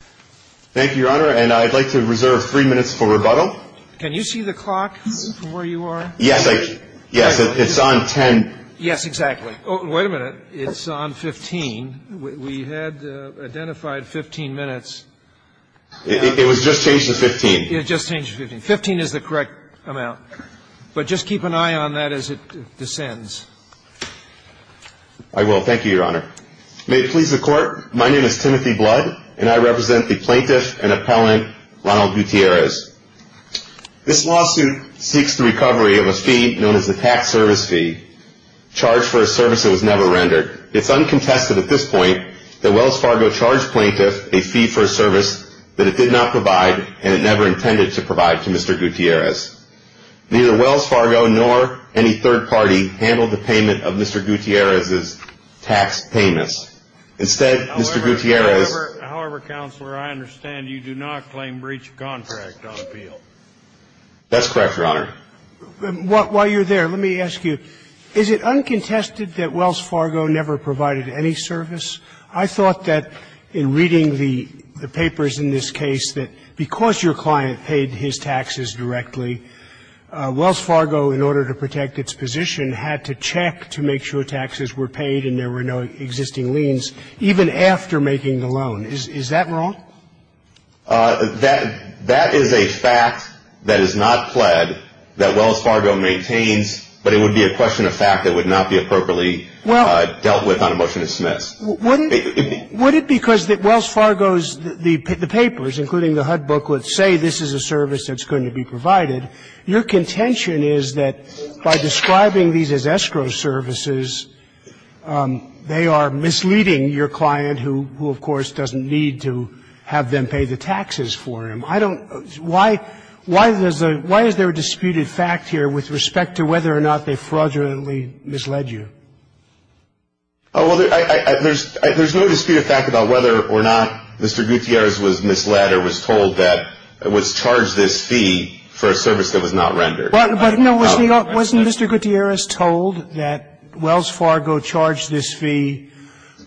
Thank you, Your Honor, and I'd like to reserve three minutes for rebuttal. Can you see the clock from where you are? Yes, I can. Yes, it's on 10. Yes, exactly. Oh, wait a minute. It's on 15. We had identified 15 minutes. It was just changed to 15. It just changed to 15. 15 is the correct amount. But just keep an eye on that as it descends. I will. Thank you, Your Honor. May it please the Court, my name is Timothy Blood, and I represent the plaintiff and appellant, Ronald Gutierrez. This lawsuit seeks the recovery of a fee known as the tax service fee, charged for a service that was never rendered. It's uncontested at this point that Wells Fargo charged plaintiff a fee for a service that it did not provide and it never intended to provide to Mr. Gutierrez. Neither Wells Fargo nor any third party handled the payment of Mr. Gutierrez's tax payments. Instead, Mr. Gutierrez However, Counselor, I understand you do not claim breach of contract on appeal. That's correct, Your Honor. While you're there, let me ask you, is it uncontested that Wells Fargo never provided any service? I thought that in reading the papers in this case, that because your client paid his taxes directly, Wells Fargo, in order to protect its position, had to check to make sure taxes were paid and there were no existing liens, even after making the loan. Is that wrong? That is a fact that is not pled that Wells Fargo maintains, but it would be a question of fact that would not be appropriately dealt with on a motion to dismiss. Would it be because Wells Fargo's, the papers, including the HUD booklets, say this is a service that's going to be provided. Your contention is that by describing these as escrow services, they are misleading your client, who, of course, doesn't need to have them pay the taxes for him. I don't why, why is there a disputed fact here with respect to whether or not they fraudulently misled you? Well, there's no disputed fact about whether or not Mr. Gutierrez was misled or was told that it was charged this fee for a service that was not rendered. But, no, wasn't Mr. Gutierrez told that Wells Fargo charged this fee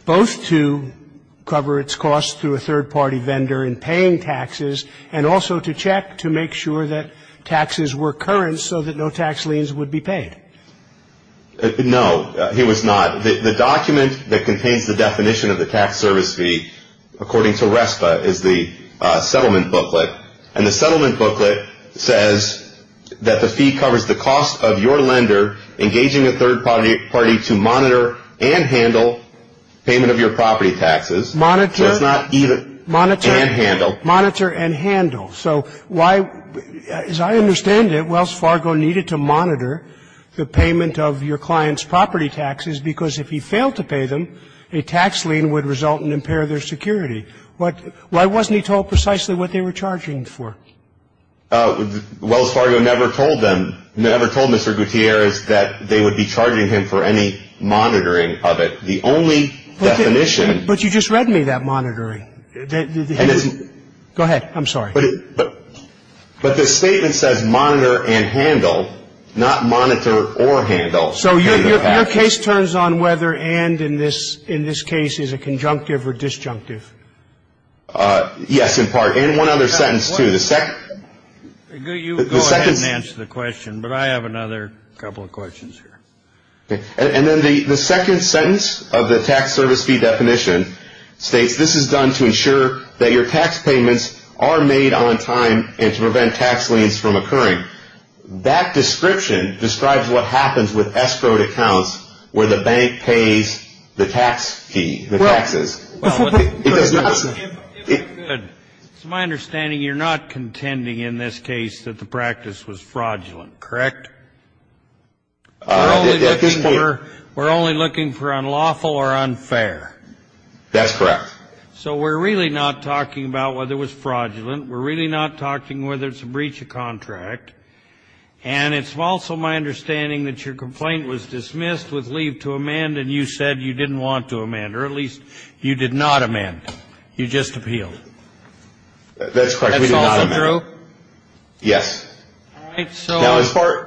both to cover its cost through a third-party vendor in paying taxes and also to check to make sure that taxes were current so that no tax liens would be paid? No, he was not. The document that contains the definition of the tax service fee, according to RESPA, is the settlement booklet. And the settlement booklet says that the fee covers the cost of your lender engaging a third-party to monitor and handle payment of your property taxes. Monitor. So it's not even, and handle. Monitor and handle. So why, as I understand it, Wells Fargo needed to monitor the payment of your client's property taxes because if he failed to pay them, a tax lien would result and impair their security. Why wasn't he told precisely what they were charging for? Wells Fargo never told them, never told Mr. Gutierrez that they would be charging him for any monitoring of it. The only definition. But you just read me that monitoring. Go ahead. I'm sorry. But the statement says monitor and handle, not monitor or handle payment of taxes. So your case turns on whether and in this case is a conjunctive or disjunctive. Yes, in part. And one other sentence, too. You go ahead and answer the question, but I have another couple of questions here. And then the second sentence of the tax service fee definition states this is done to ensure that your tax payments are made on time and to prevent tax liens from occurring. That description describes what happens with escrowed accounts where the bank pays the tax fee, the taxes. It does not say. It's my understanding you're not contending in this case that the practice was fraudulent, correct? We're only looking for unlawful or unfair. That's correct. So we're really not talking about whether it was fraudulent. We're really not talking whether it's a breach of contract. And it's also my understanding that your complaint was dismissed with leave to amend, and you said you didn't want to amend, or at least you did not amend. You just appealed. That's correct. We did not amend. That's also true? Yes. All right.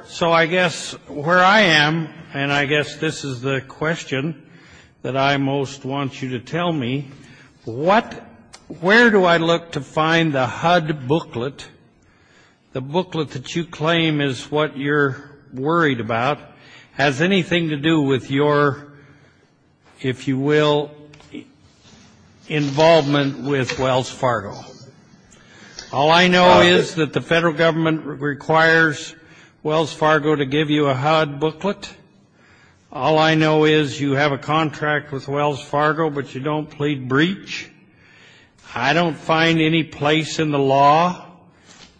So I guess where I am, and I guess this is the question that I most want you to tell me, where do I look to find the HUD booklet, the booklet that you claim is what you're worried about, has anything to do with your, if you will, involvement with Wells Fargo? All I know is that the federal government requires Wells Fargo to give you a HUD booklet. All I know is you have a contract with Wells Fargo, but you don't plead breach. I don't find any place in the law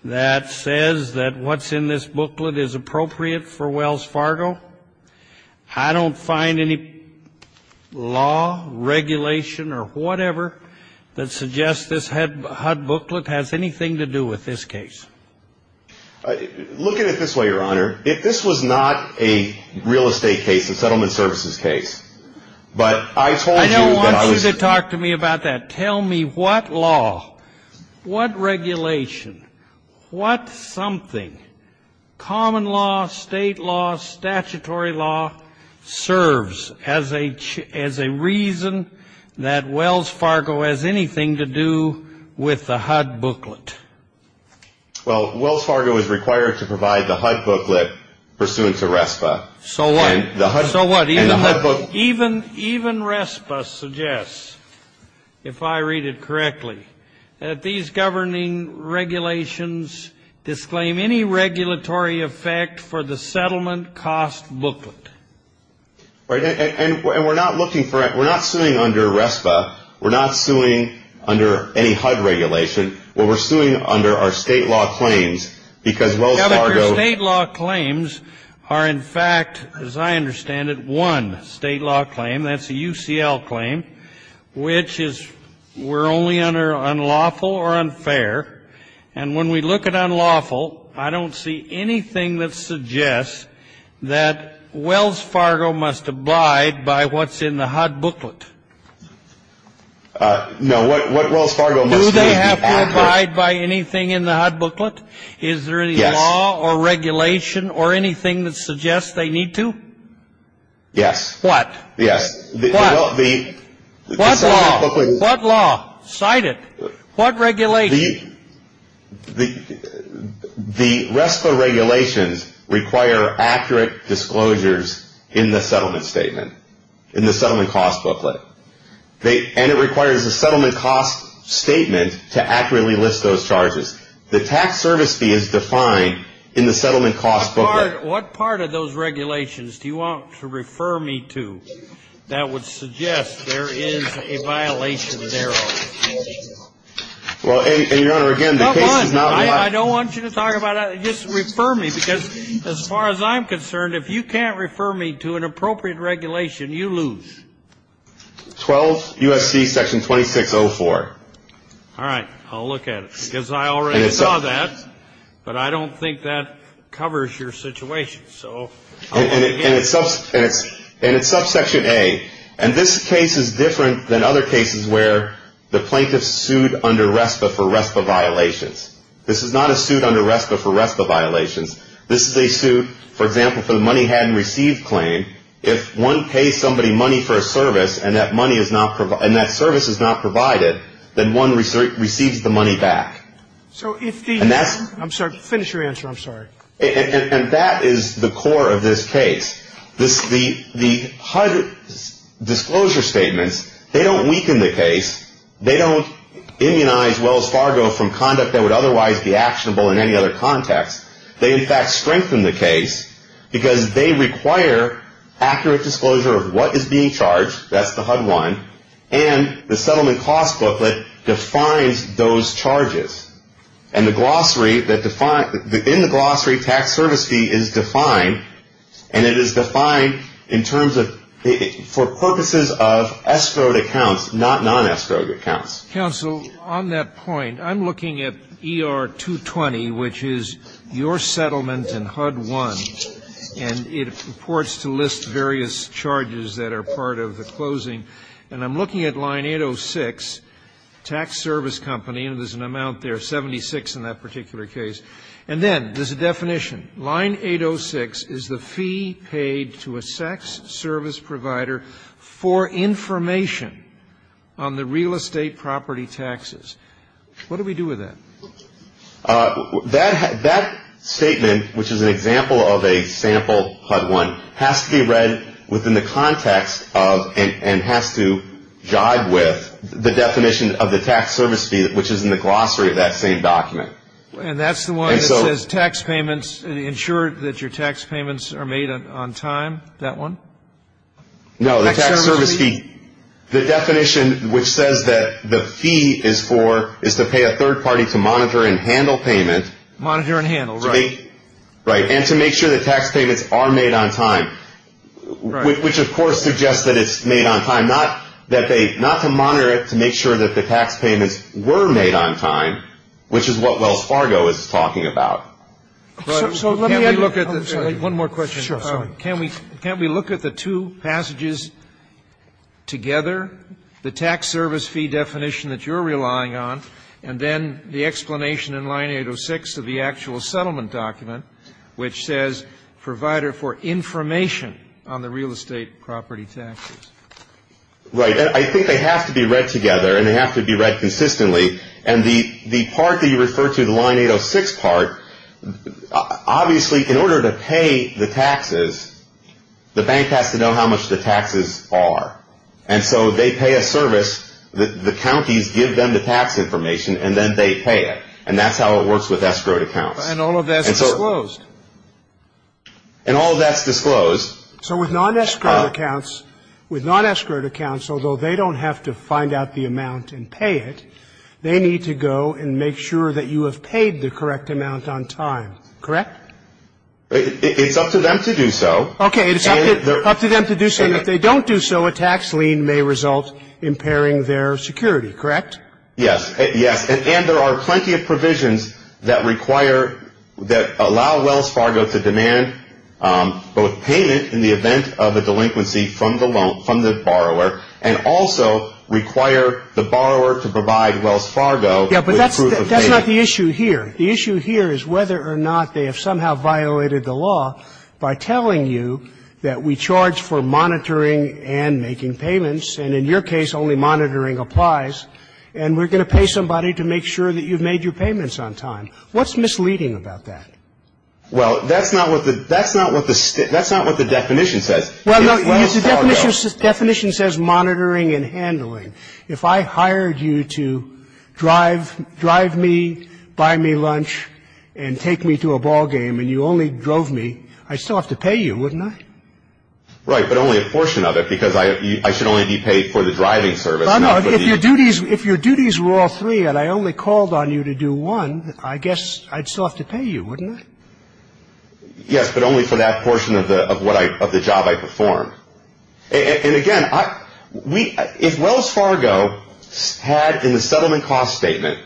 that says that what's in this booklet is appropriate for Wells Fargo. I don't find any law, regulation, or whatever that suggests this HUD booklet has anything to do with this case. Look at it this way, Your Honor. If this was not a real estate case, a settlement services case, but I told you that I was going to ---- I don't want you to talk to me about that. Tell me what law, what regulation, what something, common law, state law, statutory law, serves as a reason that Wells Fargo has anything to do with the HUD booklet. Well, Wells Fargo is required to provide the HUD booklet pursuant to RESPA. So what? Even RESPA suggests, if I read it correctly, that these governing regulations disclaim any regulatory effect for the settlement cost booklet. And we're not looking for it. We're not suing under RESPA. We're not suing under any HUD regulation. What we're suing under are state law claims, because Wells Fargo ---- state law claim, that's a UCL claim, which is we're only under unlawful or unfair. And when we look at unlawful, I don't see anything that suggests that Wells Fargo must abide by what's in the HUD booklet. No, what Wells Fargo must abide by. Do they have to abide by anything in the HUD booklet? Yes. Is there any law or regulation or anything that suggests they need to? Yes. What? Yes. What? What law? What law? Cite it. What regulation? The RESPA regulations require accurate disclosures in the settlement statement, in the settlement cost booklet. And it requires a settlement cost statement to accurately list those charges. The tax service fee is defined in the settlement cost booklet. What part of those regulations do you want to refer me to that would suggest there is a violation thereof? Well, and, Your Honor, again, the case is not live. Come on. I don't want you to talk about it. Just refer me, because as far as I'm concerned, if you can't refer me to an appropriate regulation, you lose. 12 U.S.C. section 2604. All right. I'll look at it. Because I already saw that. But I don't think that covers your situation. And it's subsection A. And this case is different than other cases where the plaintiff sued under RESPA for RESPA violations. This is not a suit under RESPA for RESPA violations. This is a suit, for example, for the money hadn't received claim. If one pays somebody money for a service and that service is not provided, then one receives the money back. I'm sorry. Finish your answer. I'm sorry. And that is the core of this case. The HUD disclosure statements, they don't weaken the case. They don't immunize Wells Fargo from conduct that would otherwise be actionable in any other context. They, in fact, strengthen the case because they require accurate disclosure of what is being charged. That's the HUD one. And the settlement cost booklet defines those charges. And the glossary that defines the tax service fee is defined, and it is defined in terms of for purposes of escrowed accounts, not non-escrowed accounts. Counsel, on that point, I'm looking at ER-220, which is your settlement in HUD-1. And it purports to list various charges that are part of the closing. And I'm looking at line 806, tax service company, and there's an amount there, 76 in that particular case. And then there's a definition. Line 806 is the fee paid to a sex service provider for information on the real estate property taxes. What do we do with that? That statement, which is an example of a sample HUD-1, has to be read within the context of and has to jive with the definition of the tax service fee, which is in the glossary of that same document. And that's the one that says tax payments, ensure that your tax payments are made on time, that one? No, the tax service fee. The definition, which says that the fee is for, is to pay a third party to monitor and handle payment. Monitor and handle, right. Right, and to make sure that tax payments are made on time, which, of course, suggests that it's made on time. Not to monitor it to make sure that the tax payments were made on time, which is what Wells Fargo is talking about. Can we look at the two passages together, the tax service fee definition that you're relying on, and then the explanation in line 806 of the actual settlement document, which says provider for information on the real estate property taxes? Right. I think they have to be read together, and they have to be read consistently. And the part that you refer to, the line 806 part, obviously, in order to pay the taxes, the bank has to know how much the taxes are. And so they pay a service, the counties give them the tax information, and then they pay it. And that's how it works with escrowed accounts. And all of that's disclosed. And all of that's disclosed. So with non-escrowed accounts, with non-escrowed accounts, although they don't have to find out the amount and pay it, they need to go and make sure that you have paid the correct amount on time, correct? It's up to them to do so. Okay, it's up to them to do so, and if they don't do so, a tax lien may result impairing their security, correct? Yes, yes. And there are plenty of provisions that require, that allow Wells Fargo to demand both payment in the event of a delinquency from the loan, from the borrower, and also require the borrower to provide Wells Fargo with proof of payment. Yes, but that's not the issue here. The issue here is whether or not they have somehow violated the law by telling you that we charge for monitoring and making payments, and in your case, only monitoring applies, and we're going to pay somebody to make sure that you've made your payments on time. What's misleading about that? Well, that's not what the definition says. Well, no, the definition says monitoring and handling. If I hired you to drive me, buy me lunch, and take me to a ballgame, and you only drove me, I'd still have to pay you, wouldn't I? Right, but only a portion of it, because I should only be paid for the driving service. No, no. If your duties were all three and I only called on you to do one, I guess I'd still have to pay you, wouldn't I? Yes, but only for that portion of the job I performed. And, again, if Wells Fargo had in the settlement cost statement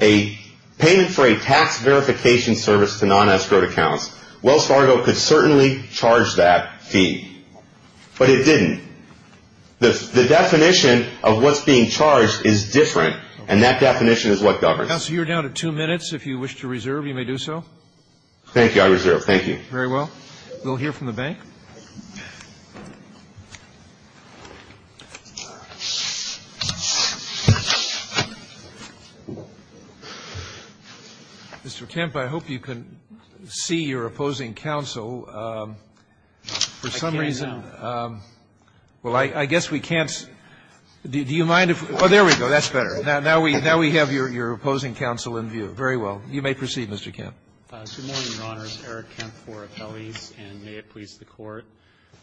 a payment for a tax verification service to non-escrowed accounts, Wells Fargo could certainly charge that fee, but it didn't. The definition of what's being charged is different, and that definition is what governs. Counsel, you're down to two minutes. If you wish to reserve, you may do so. Thank you. I reserve. Thank you. Very well. We'll hear from the bank. Mr. Kemp, I hope you can see your opposing counsel. I can now. I can now. Well, I guess we can't. Do you mind if we go? Oh, there we go. That's better. Now we have your opposing counsel in view. Very well. You may proceed, Mr. Kemp. Good morning, Your Honors. Eric Kemp for Appellees, and may it please the Court.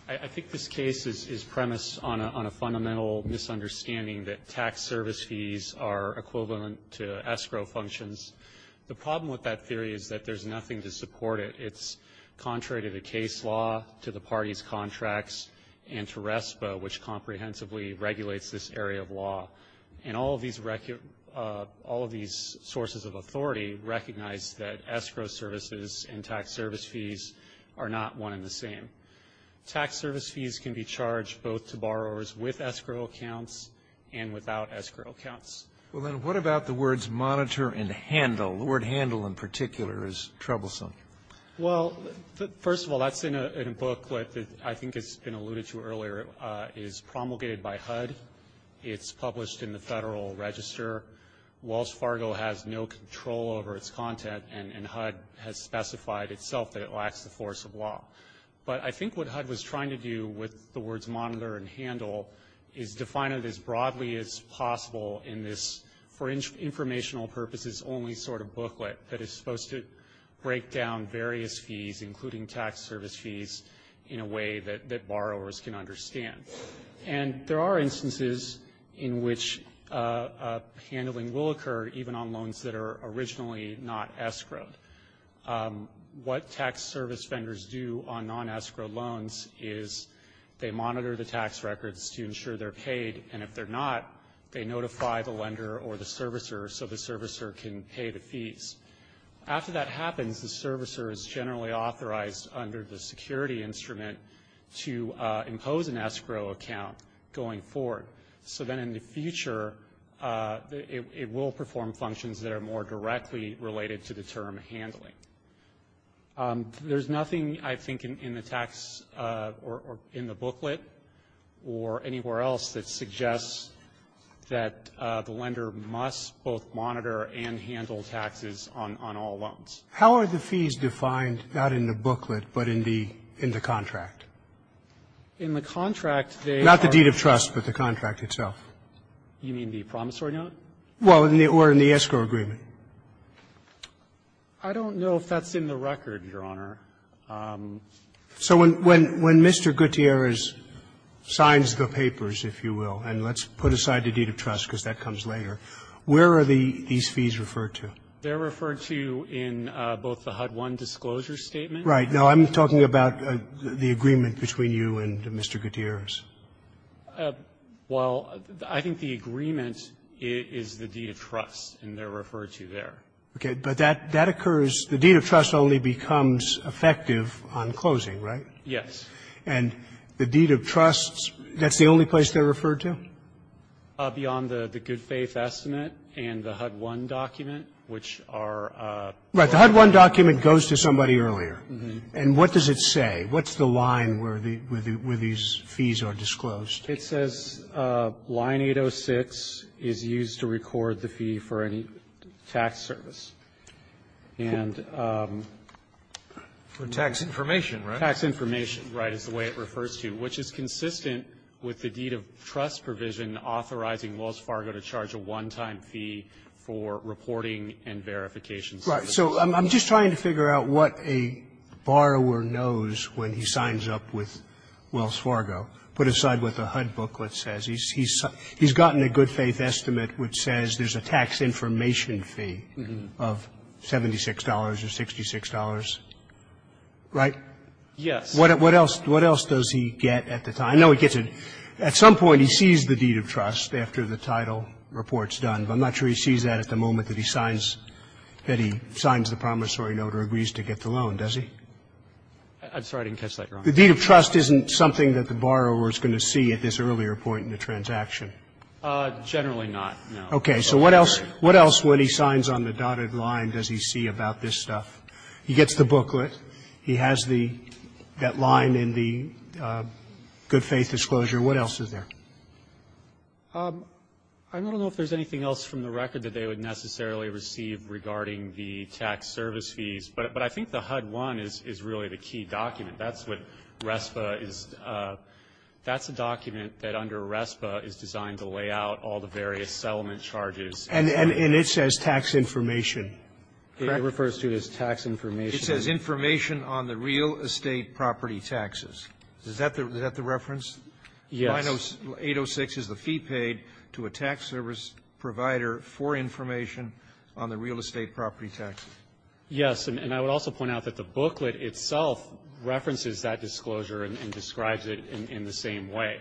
I think this case is premised on a fundamental misunderstanding that tax service fees are equivalent to escrow functions. The problem with that theory is that there's nothing to support it. It's contrary to the case law, to the party's contracts, and to RESPA, which comprehensively regulates this area of law. And all of these sources of authority recognize that escrow services and tax service fees are not one and the same. Tax service fees can be charged both to borrowers with escrow accounts and without escrow accounts. Well, then what about the words monitor and handle? The word handle in particular is troublesome. Well, first of all, that's in a book that I think has been alluded to earlier. It is promulgated by HUD. It's published in the Federal Register. Wells Fargo has no control over its content, and HUD has specified itself that it lacks the force of law. But I think what HUD was trying to do with the words monitor and handle is define it as broadly as possible in this, for informational purposes, only sort of booklet that is supposed to break down various fees, including tax service fees, in a way that borrowers can understand. And there are instances in which handling will occur, even on loans that are originally not escrowed. What tax service vendors do on non-escrow loans is they monitor the tax records to ensure they're paid, and if they're not, they notify the lender or the servicer so the servicer can pay the fees. After that happens, the servicer is generally authorized under the security instrument to impose an escrow account going forward. So then in the future it will perform functions that are more directly related to the term handling. There's nothing, I think, in the tax or in the booklet or anywhere else that suggests that the lender must both monitor and handle taxes on all loans. How are the fees defined, not in the booklet, but in the contract? In the contract, they are Not the deed of trust, but the contract itself. You mean the promissory note? Well, or in the escrow agreement. I don't know if that's in the record, Your Honor. So when Mr. Gutierrez signs the papers, if you will, and let's put aside the deed of trust because that comes later, where are these fees referred to? They're referred to in both the HUD-1 disclosure statement. Right. Now, I'm talking about the agreement between you and Mr. Gutierrez. Well, I think the agreement is the deed of trust, and they're referred to there. Okay. But that occurs the deed of trust only becomes effective on closing, right? Yes. And the deed of trust, that's the only place they're referred to? Beyond the good faith estimate and the HUD-1 document, which are Right. The HUD-1 document goes to somebody earlier. Mm-hmm. And what does it say? What's the line where these fees are disclosed? It says line 806 is used to record the fee for any tax service. And tax information, right? Tax information, right, is the way it refers to, which is consistent with the deed of trust provision authorizing Wells Fargo to charge a one-time fee for reporting and verification services. Right. So I'm just trying to figure out what a borrower knows when he signs up with Wells Fargo, put aside what the HUD booklet says. He's gotten a good faith estimate which says there's a tax information fee of $76 or $66, right? Yes. What else does he get at the time? I know he gets a at some point he sees the deed of trust after the title report is done. But I'm not sure he sees that at the moment that he signs, that he signs the promissory note or agrees to get the loan, does he? I'm sorry. I didn't catch that wrong. The deed of trust isn't something that the borrower is going to see at this earlier point in the transaction. Generally not, no. Okay. So what else, what else when he signs on the dotted line does he see about this stuff? He gets the booklet. He has the, that line in the good faith disclosure. What else is there? I don't know if there's anything else from the record that they would necessarily receive regarding the tax service fees. But I think the HUD one is really the key document. That's what RESPA is, that's a document that under RESPA is designed to lay out all the various settlement charges. And it says tax information. Correct? It refers to as tax information. It says information on the real estate property taxes. Is that the reference? Yes. 806 is the fee paid to a tax service provider for information on the real estate property taxes. Yes. And I would also point out that the booklet itself references that disclosure and describes it in the same way.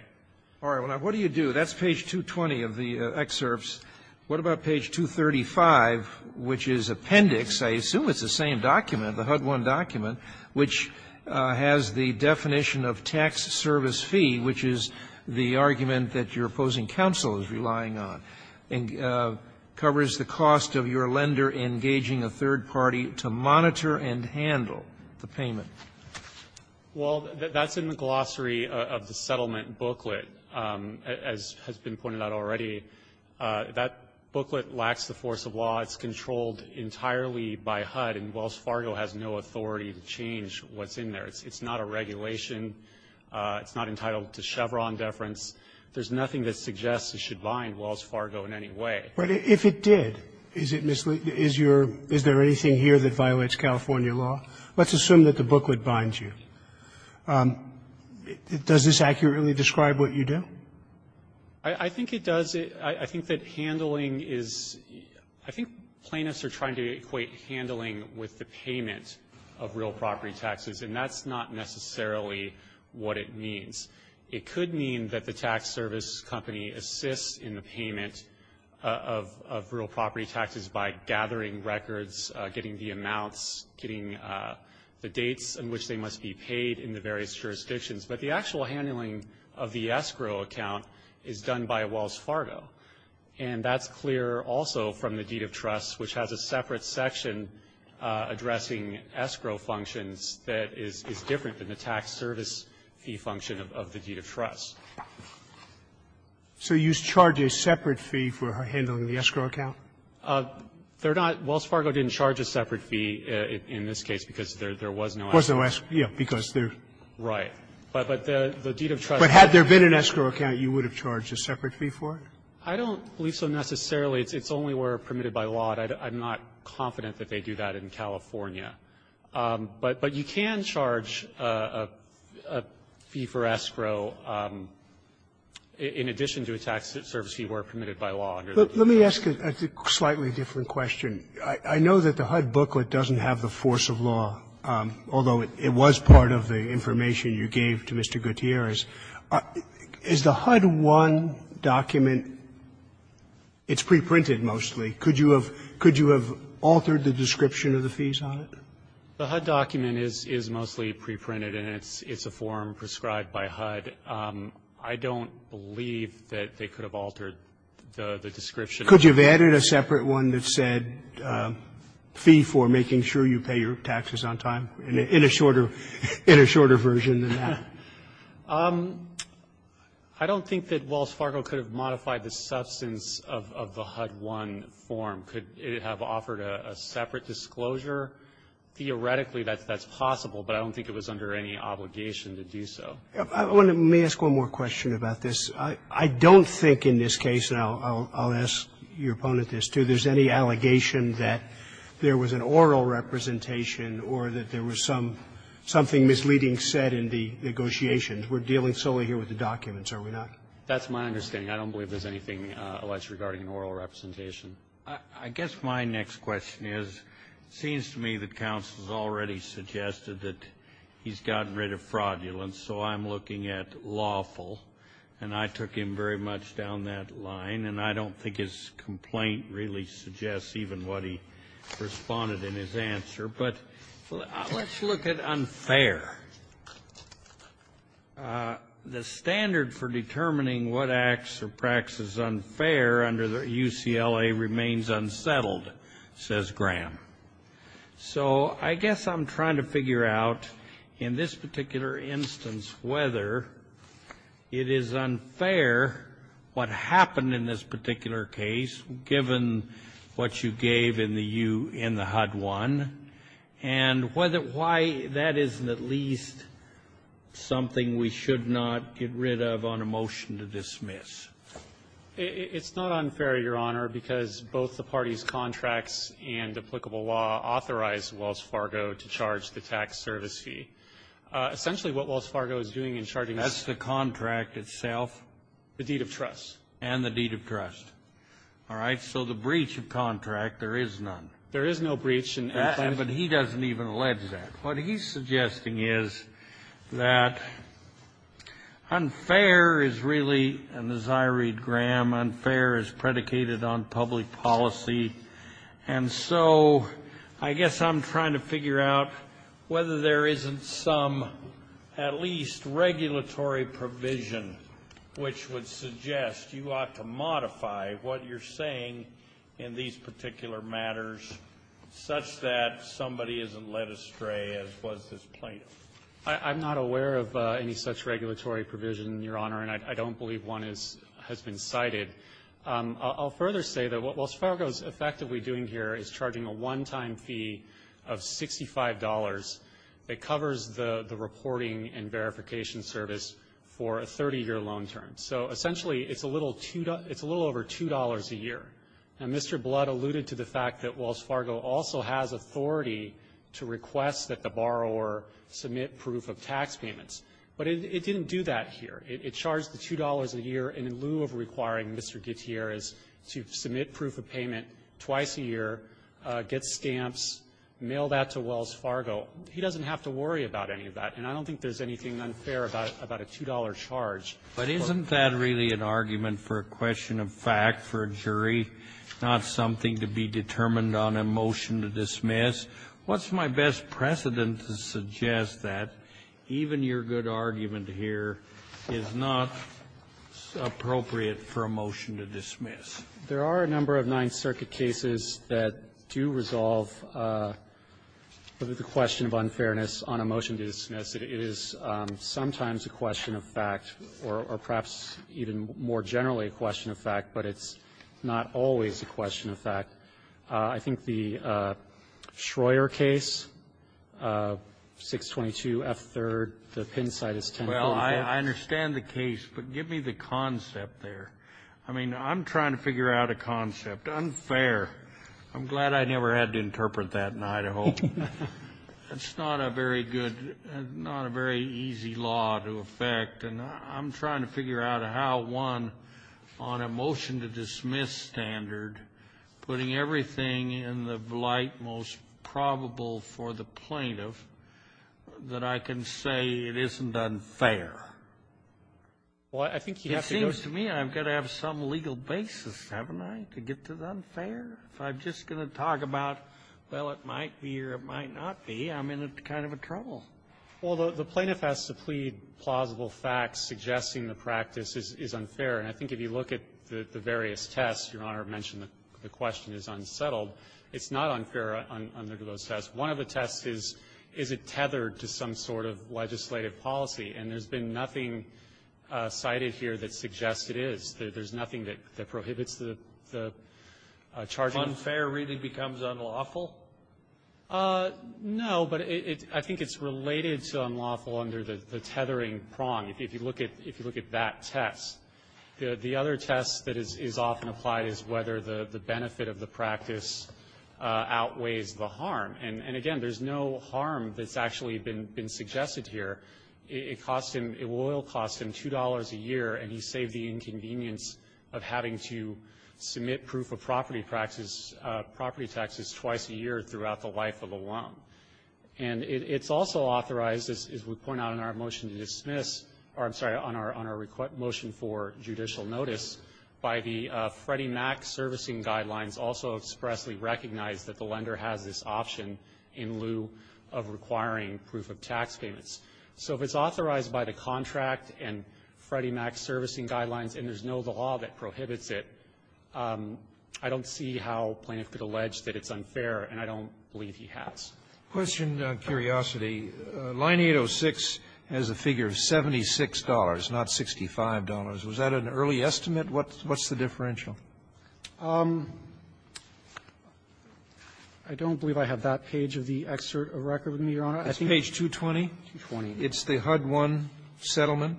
All right. What do you do? That's page 220 of the excerpts. What about page 235, which is appendix, I assume it's the same document, the HUD one document, which has the definition of tax service fee, which is the argument that your opposing counsel is relying on, and covers the cost of your lender engaging a third party to monitor and handle the payment? Well, that's in the glossary of the settlement booklet. As has been pointed out already, that booklet lacks the force of law. It's controlled entirely by HUD, and Wells Fargo has no authority to change what's in there. It's not a regulation. It's not entitled to Chevron deference. There's nothing that suggests it should bind Wells Fargo in any way. But if it did, is it misleading? Is there anything here that violates California law? Let's assume that the booklet binds you. Does this accurately describe what you do? I think it does. I think that handling is ‑‑ I think plaintiffs are trying to equate handling with the payment of real property taxes, and that's not necessarily what it means. It could mean that the tax service company assists in the payment of real property taxes by gathering records, getting the amounts, getting the dates on which they must be paid in the various jurisdictions. But the actual handling of the escrow account is done by Wells Fargo, and that's clear also from the deed of trust, which has a separate section addressing escrow functions that is different than the tax service fee function of the deed of trust. So you charge a separate fee for handling the escrow account? They're not ‑‑ Wells Fargo didn't charge a separate fee in this case because there was no escrow. Was no escrow, yes, because there's ‑‑ Right. But the deed of trust ‑‑ But had there been an escrow account, you would have charged a separate fee for it? I don't believe so necessarily. It's only where permitted by law. I'm not confident that they do that in California. But you can charge a fee for escrow in addition to a tax service fee where permitted by law. Let me ask a slightly different question. I know that the HUD booklet doesn't have the force of law, although it was part of the information you gave to Mr. Gutierrez. Is the HUD 1 document, it's preprinted mostly. Could you have altered the description of the fees on it? The HUD document is mostly preprinted, and it's a form prescribed by HUD. I don't believe that they could have altered the description. Could you have added a separate one that said fee for making sure you pay your taxes on time in a shorter version than that? I don't think that Wells Fargo could have modified the substance of the HUD 1 form. Could it have offered a separate disclosure? Theoretically, that's possible, but I don't think it was under any obligation to do so. Let me ask one more question about this. I don't think in this case, and I'll ask your opponent this too, there's any allegation that there was an oral representation or that there was some, something misleading said in the negotiations. We're dealing solely here with the documents, are we not? That's my understanding. I don't believe there's anything alleged regarding an oral representation. I guess my next question is, it seems to me that counsel has already suggested that he's gotten rid of fraudulence, so I'm looking at lawful, and I took him very much down that line, and I don't think his complaint really suggests even what he responded in his answer. But let's look at unfair. The standard for determining what acts or practices unfair under the UCLA remains unsettled, says Graham. So I guess I'm trying to figure out in this particular instance whether it is unfair what happened in this particular case, given what you gave in the U in the HUD-1, and why that isn't at least something we should not get rid of on a motion to dismiss. It's not unfair, Your Honor, because both the parties' contracts and applicable law authorized Wells Fargo to charge the tax service fee. Essentially, what Wells Fargo is doing in charging us the contract itself. The deed of trust. And the deed of trust. All right. So the breach of contract, there is none. There is no breach. But he doesn't even allege that. What he's suggesting is that unfair is really, and as I read Graham, unfair is predicated on public policy. And so I guess I'm trying to figure out whether there isn't some at least regulatory provision which would suggest you ought to modify what you're saying in these particular matters such that somebody isn't led astray, as was this plaintiff. I'm not aware of any such regulatory provision, Your Honor, and I don't believe one has been cited. I'll further say that what Wells Fargo is effectively doing here is charging a one-time fee of $65 that covers the reporting and verification service for a 30-year loan term. So essentially, it's a little over $2 a year. And Mr. Blood alluded to the fact that Wells Fargo also has authority to request that the borrower submit proof of tax payments. But it didn't do that here. It charged the $2 a year in lieu of requiring Mr. Gutierrez to submit proof of payment twice a year, get stamps, mail that to Wells Fargo. He doesn't have to worry about any of that. And I don't think there's anything unfair about a $2 charge. Kennedy. But isn't that really an argument for a question of fact for a jury, not something to be determined on a motion to dismiss? What's my best precedent to suggest that even your good argument here is not appropriate for a motion to dismiss? There are a number of Ninth Circuit cases that do resolve the question of unfairness on a motion to dismiss. It is sometimes a question of fact, or perhaps even more generally a question of fact, but it's not always a question of fact. I think the Schroer case, 622F3rd, the pin site is 1045. Well, I understand the case, but give me the concept there. I mean, I'm trying to figure out a concept. Unfair. I'm glad I never had to interpret that in Idaho. It's not a very good, not a very easy law to affect. And I'm trying to figure out how one, on a motion-to-dismiss standard, putting everything in the light most probable for the plaintiff, that I can say it isn't unfair. Well, I think you have to go to me. It seems to me I've got to have some legal basis, haven't I, to get to the unfair? If I'm just going to talk about, well, it might be or it might not be, I'm in kind of a trouble. Well, the plaintiff has to plead plausible facts suggesting the practice is unfair. And I think if you look at the various tests, Your Honor mentioned the question is unsettled. It's not unfair under those tests. One of the tests is, is it tethered to some sort of legislative policy? And there's been nothing cited here that suggests it is. There's nothing that prohibits the charging. Unfair really becomes unlawful? No, but I think it's related to unlawful under the tethering prong. If you look at that test. The other test that is often applied is whether the benefit of the practice outweighs the harm. And, again, there's no harm that's actually been suggested here. It cost him, it will cost him $2 a year and he saved the inconvenience of having to submit proof of property taxes twice a year throughout the life of a loan. And it's also authorized, as we point out in our motion to dismiss, or I'm sorry, on our motion for judicial notice, by the Freddie Mac servicing guidelines also expressly recognize that the lender has this option in lieu of requiring proof of tax payments. So if it's authorized by the contract and Freddie Mac servicing guidelines and there's no law that prohibits it, I don't see how plaintiff could allege that it's unfair and I don't believe he has. Question on curiosity. Line 806 has a figure of $76, not $65. Was that an early estimate? What's the differential? I don't believe I have that page of the excerpt of record with me, Your Honor. I think it's page 220. It's the HUD-1 settlement.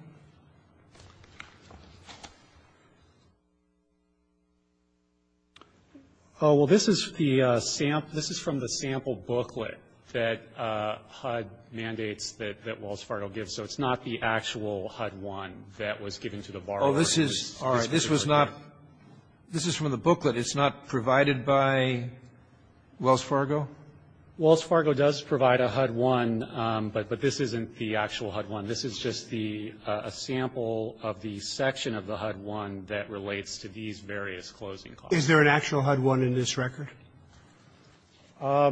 Oh, well, this is the sample. This is from the sample booklet that HUD mandates that Wells Fargo gives. So it's not the actual HUD-1 that was given to the borrower. Oh, this is, all right, this was not, this is from the booklet. It's not provided by Wells Fargo? Wells Fargo does provide a HUD-1, but this isn't the actual HUD-1. This is just the, a sample of the section of the HUD-1 that relates to these various closing costs. Is there an actual HUD-1 in this record? I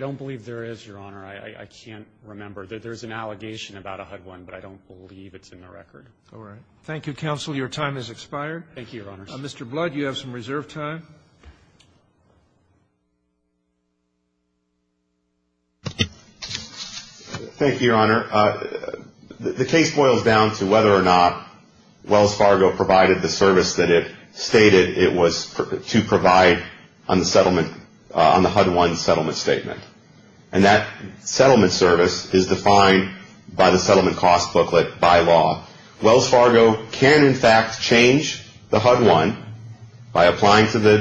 don't believe there is, Your Honor. I can't remember. There's an allegation about a HUD-1, but I don't believe it's in the record. All right. Thank you, counsel. Your time has expired. Thank you, Your Honor. Mr. Blood, you have some reserve time. Thank you, Your Honor. The case boils down to whether or not Wells Fargo provided the service that it stated it was to provide on the settlement, on the HUD-1 settlement statement. And that settlement service is defined by the settlement cost booklet by law. Wells Fargo can, in fact, change the HUD-1 by applying to the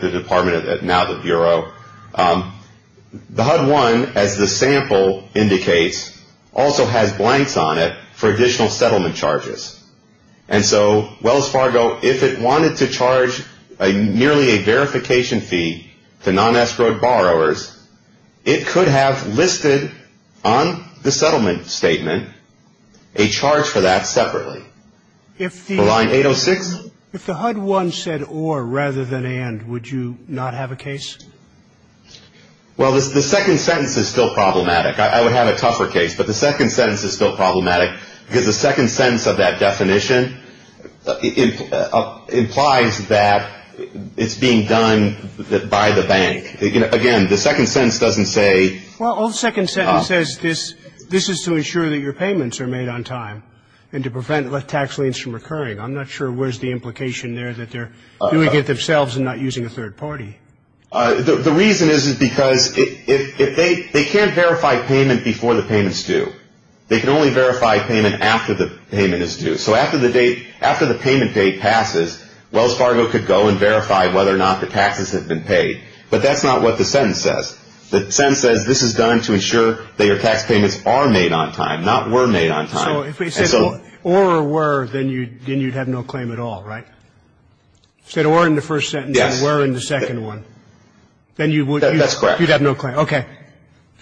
department, now the Bureau. The HUD-1, as the sample indicates, also has blanks on it for additional settlement charges. And so, Wells Fargo, if it wanted to charge nearly a verification fee to non-espionage borrowers, it could have listed on the settlement statement a charge for that separately. If the line 806? If the HUD-1 said or rather than and, would you not have a case? Well, the second sentence is still problematic. I would have a tougher case. But the second sentence is still problematic because the second sentence of that definition implies that it's being done by the bank. Again, the second sentence doesn't say. Well, the second sentence says this is to ensure that your payments are made on time and to prevent tax liens from recurring. I'm not sure where's the implication there that they're doing it themselves and not using a third party. The reason is because if they can't verify payment before the payment's due, they can only verify payment after the payment is due. So after the date, after the payment date passes, Wells Fargo could go and verify whether or not the taxes have been paid. But that's not what the sentence says. The sentence says this is done to ensure that your tax payments are made on time, not were made on time. So if it says or or were, then you'd have no claim at all, right? You said or in the first sentence and were in the second one. Then you would have no claim. Okay.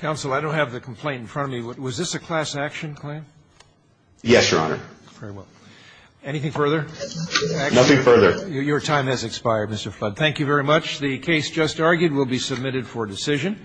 Counsel, I don't have the complaint in front of me. Was this a class action claim? Yes, Your Honor. Very well. Anything further? Nothing further. Your time has expired, Mr. Flood. Thank you very much. The case just argued will be submitted for decision.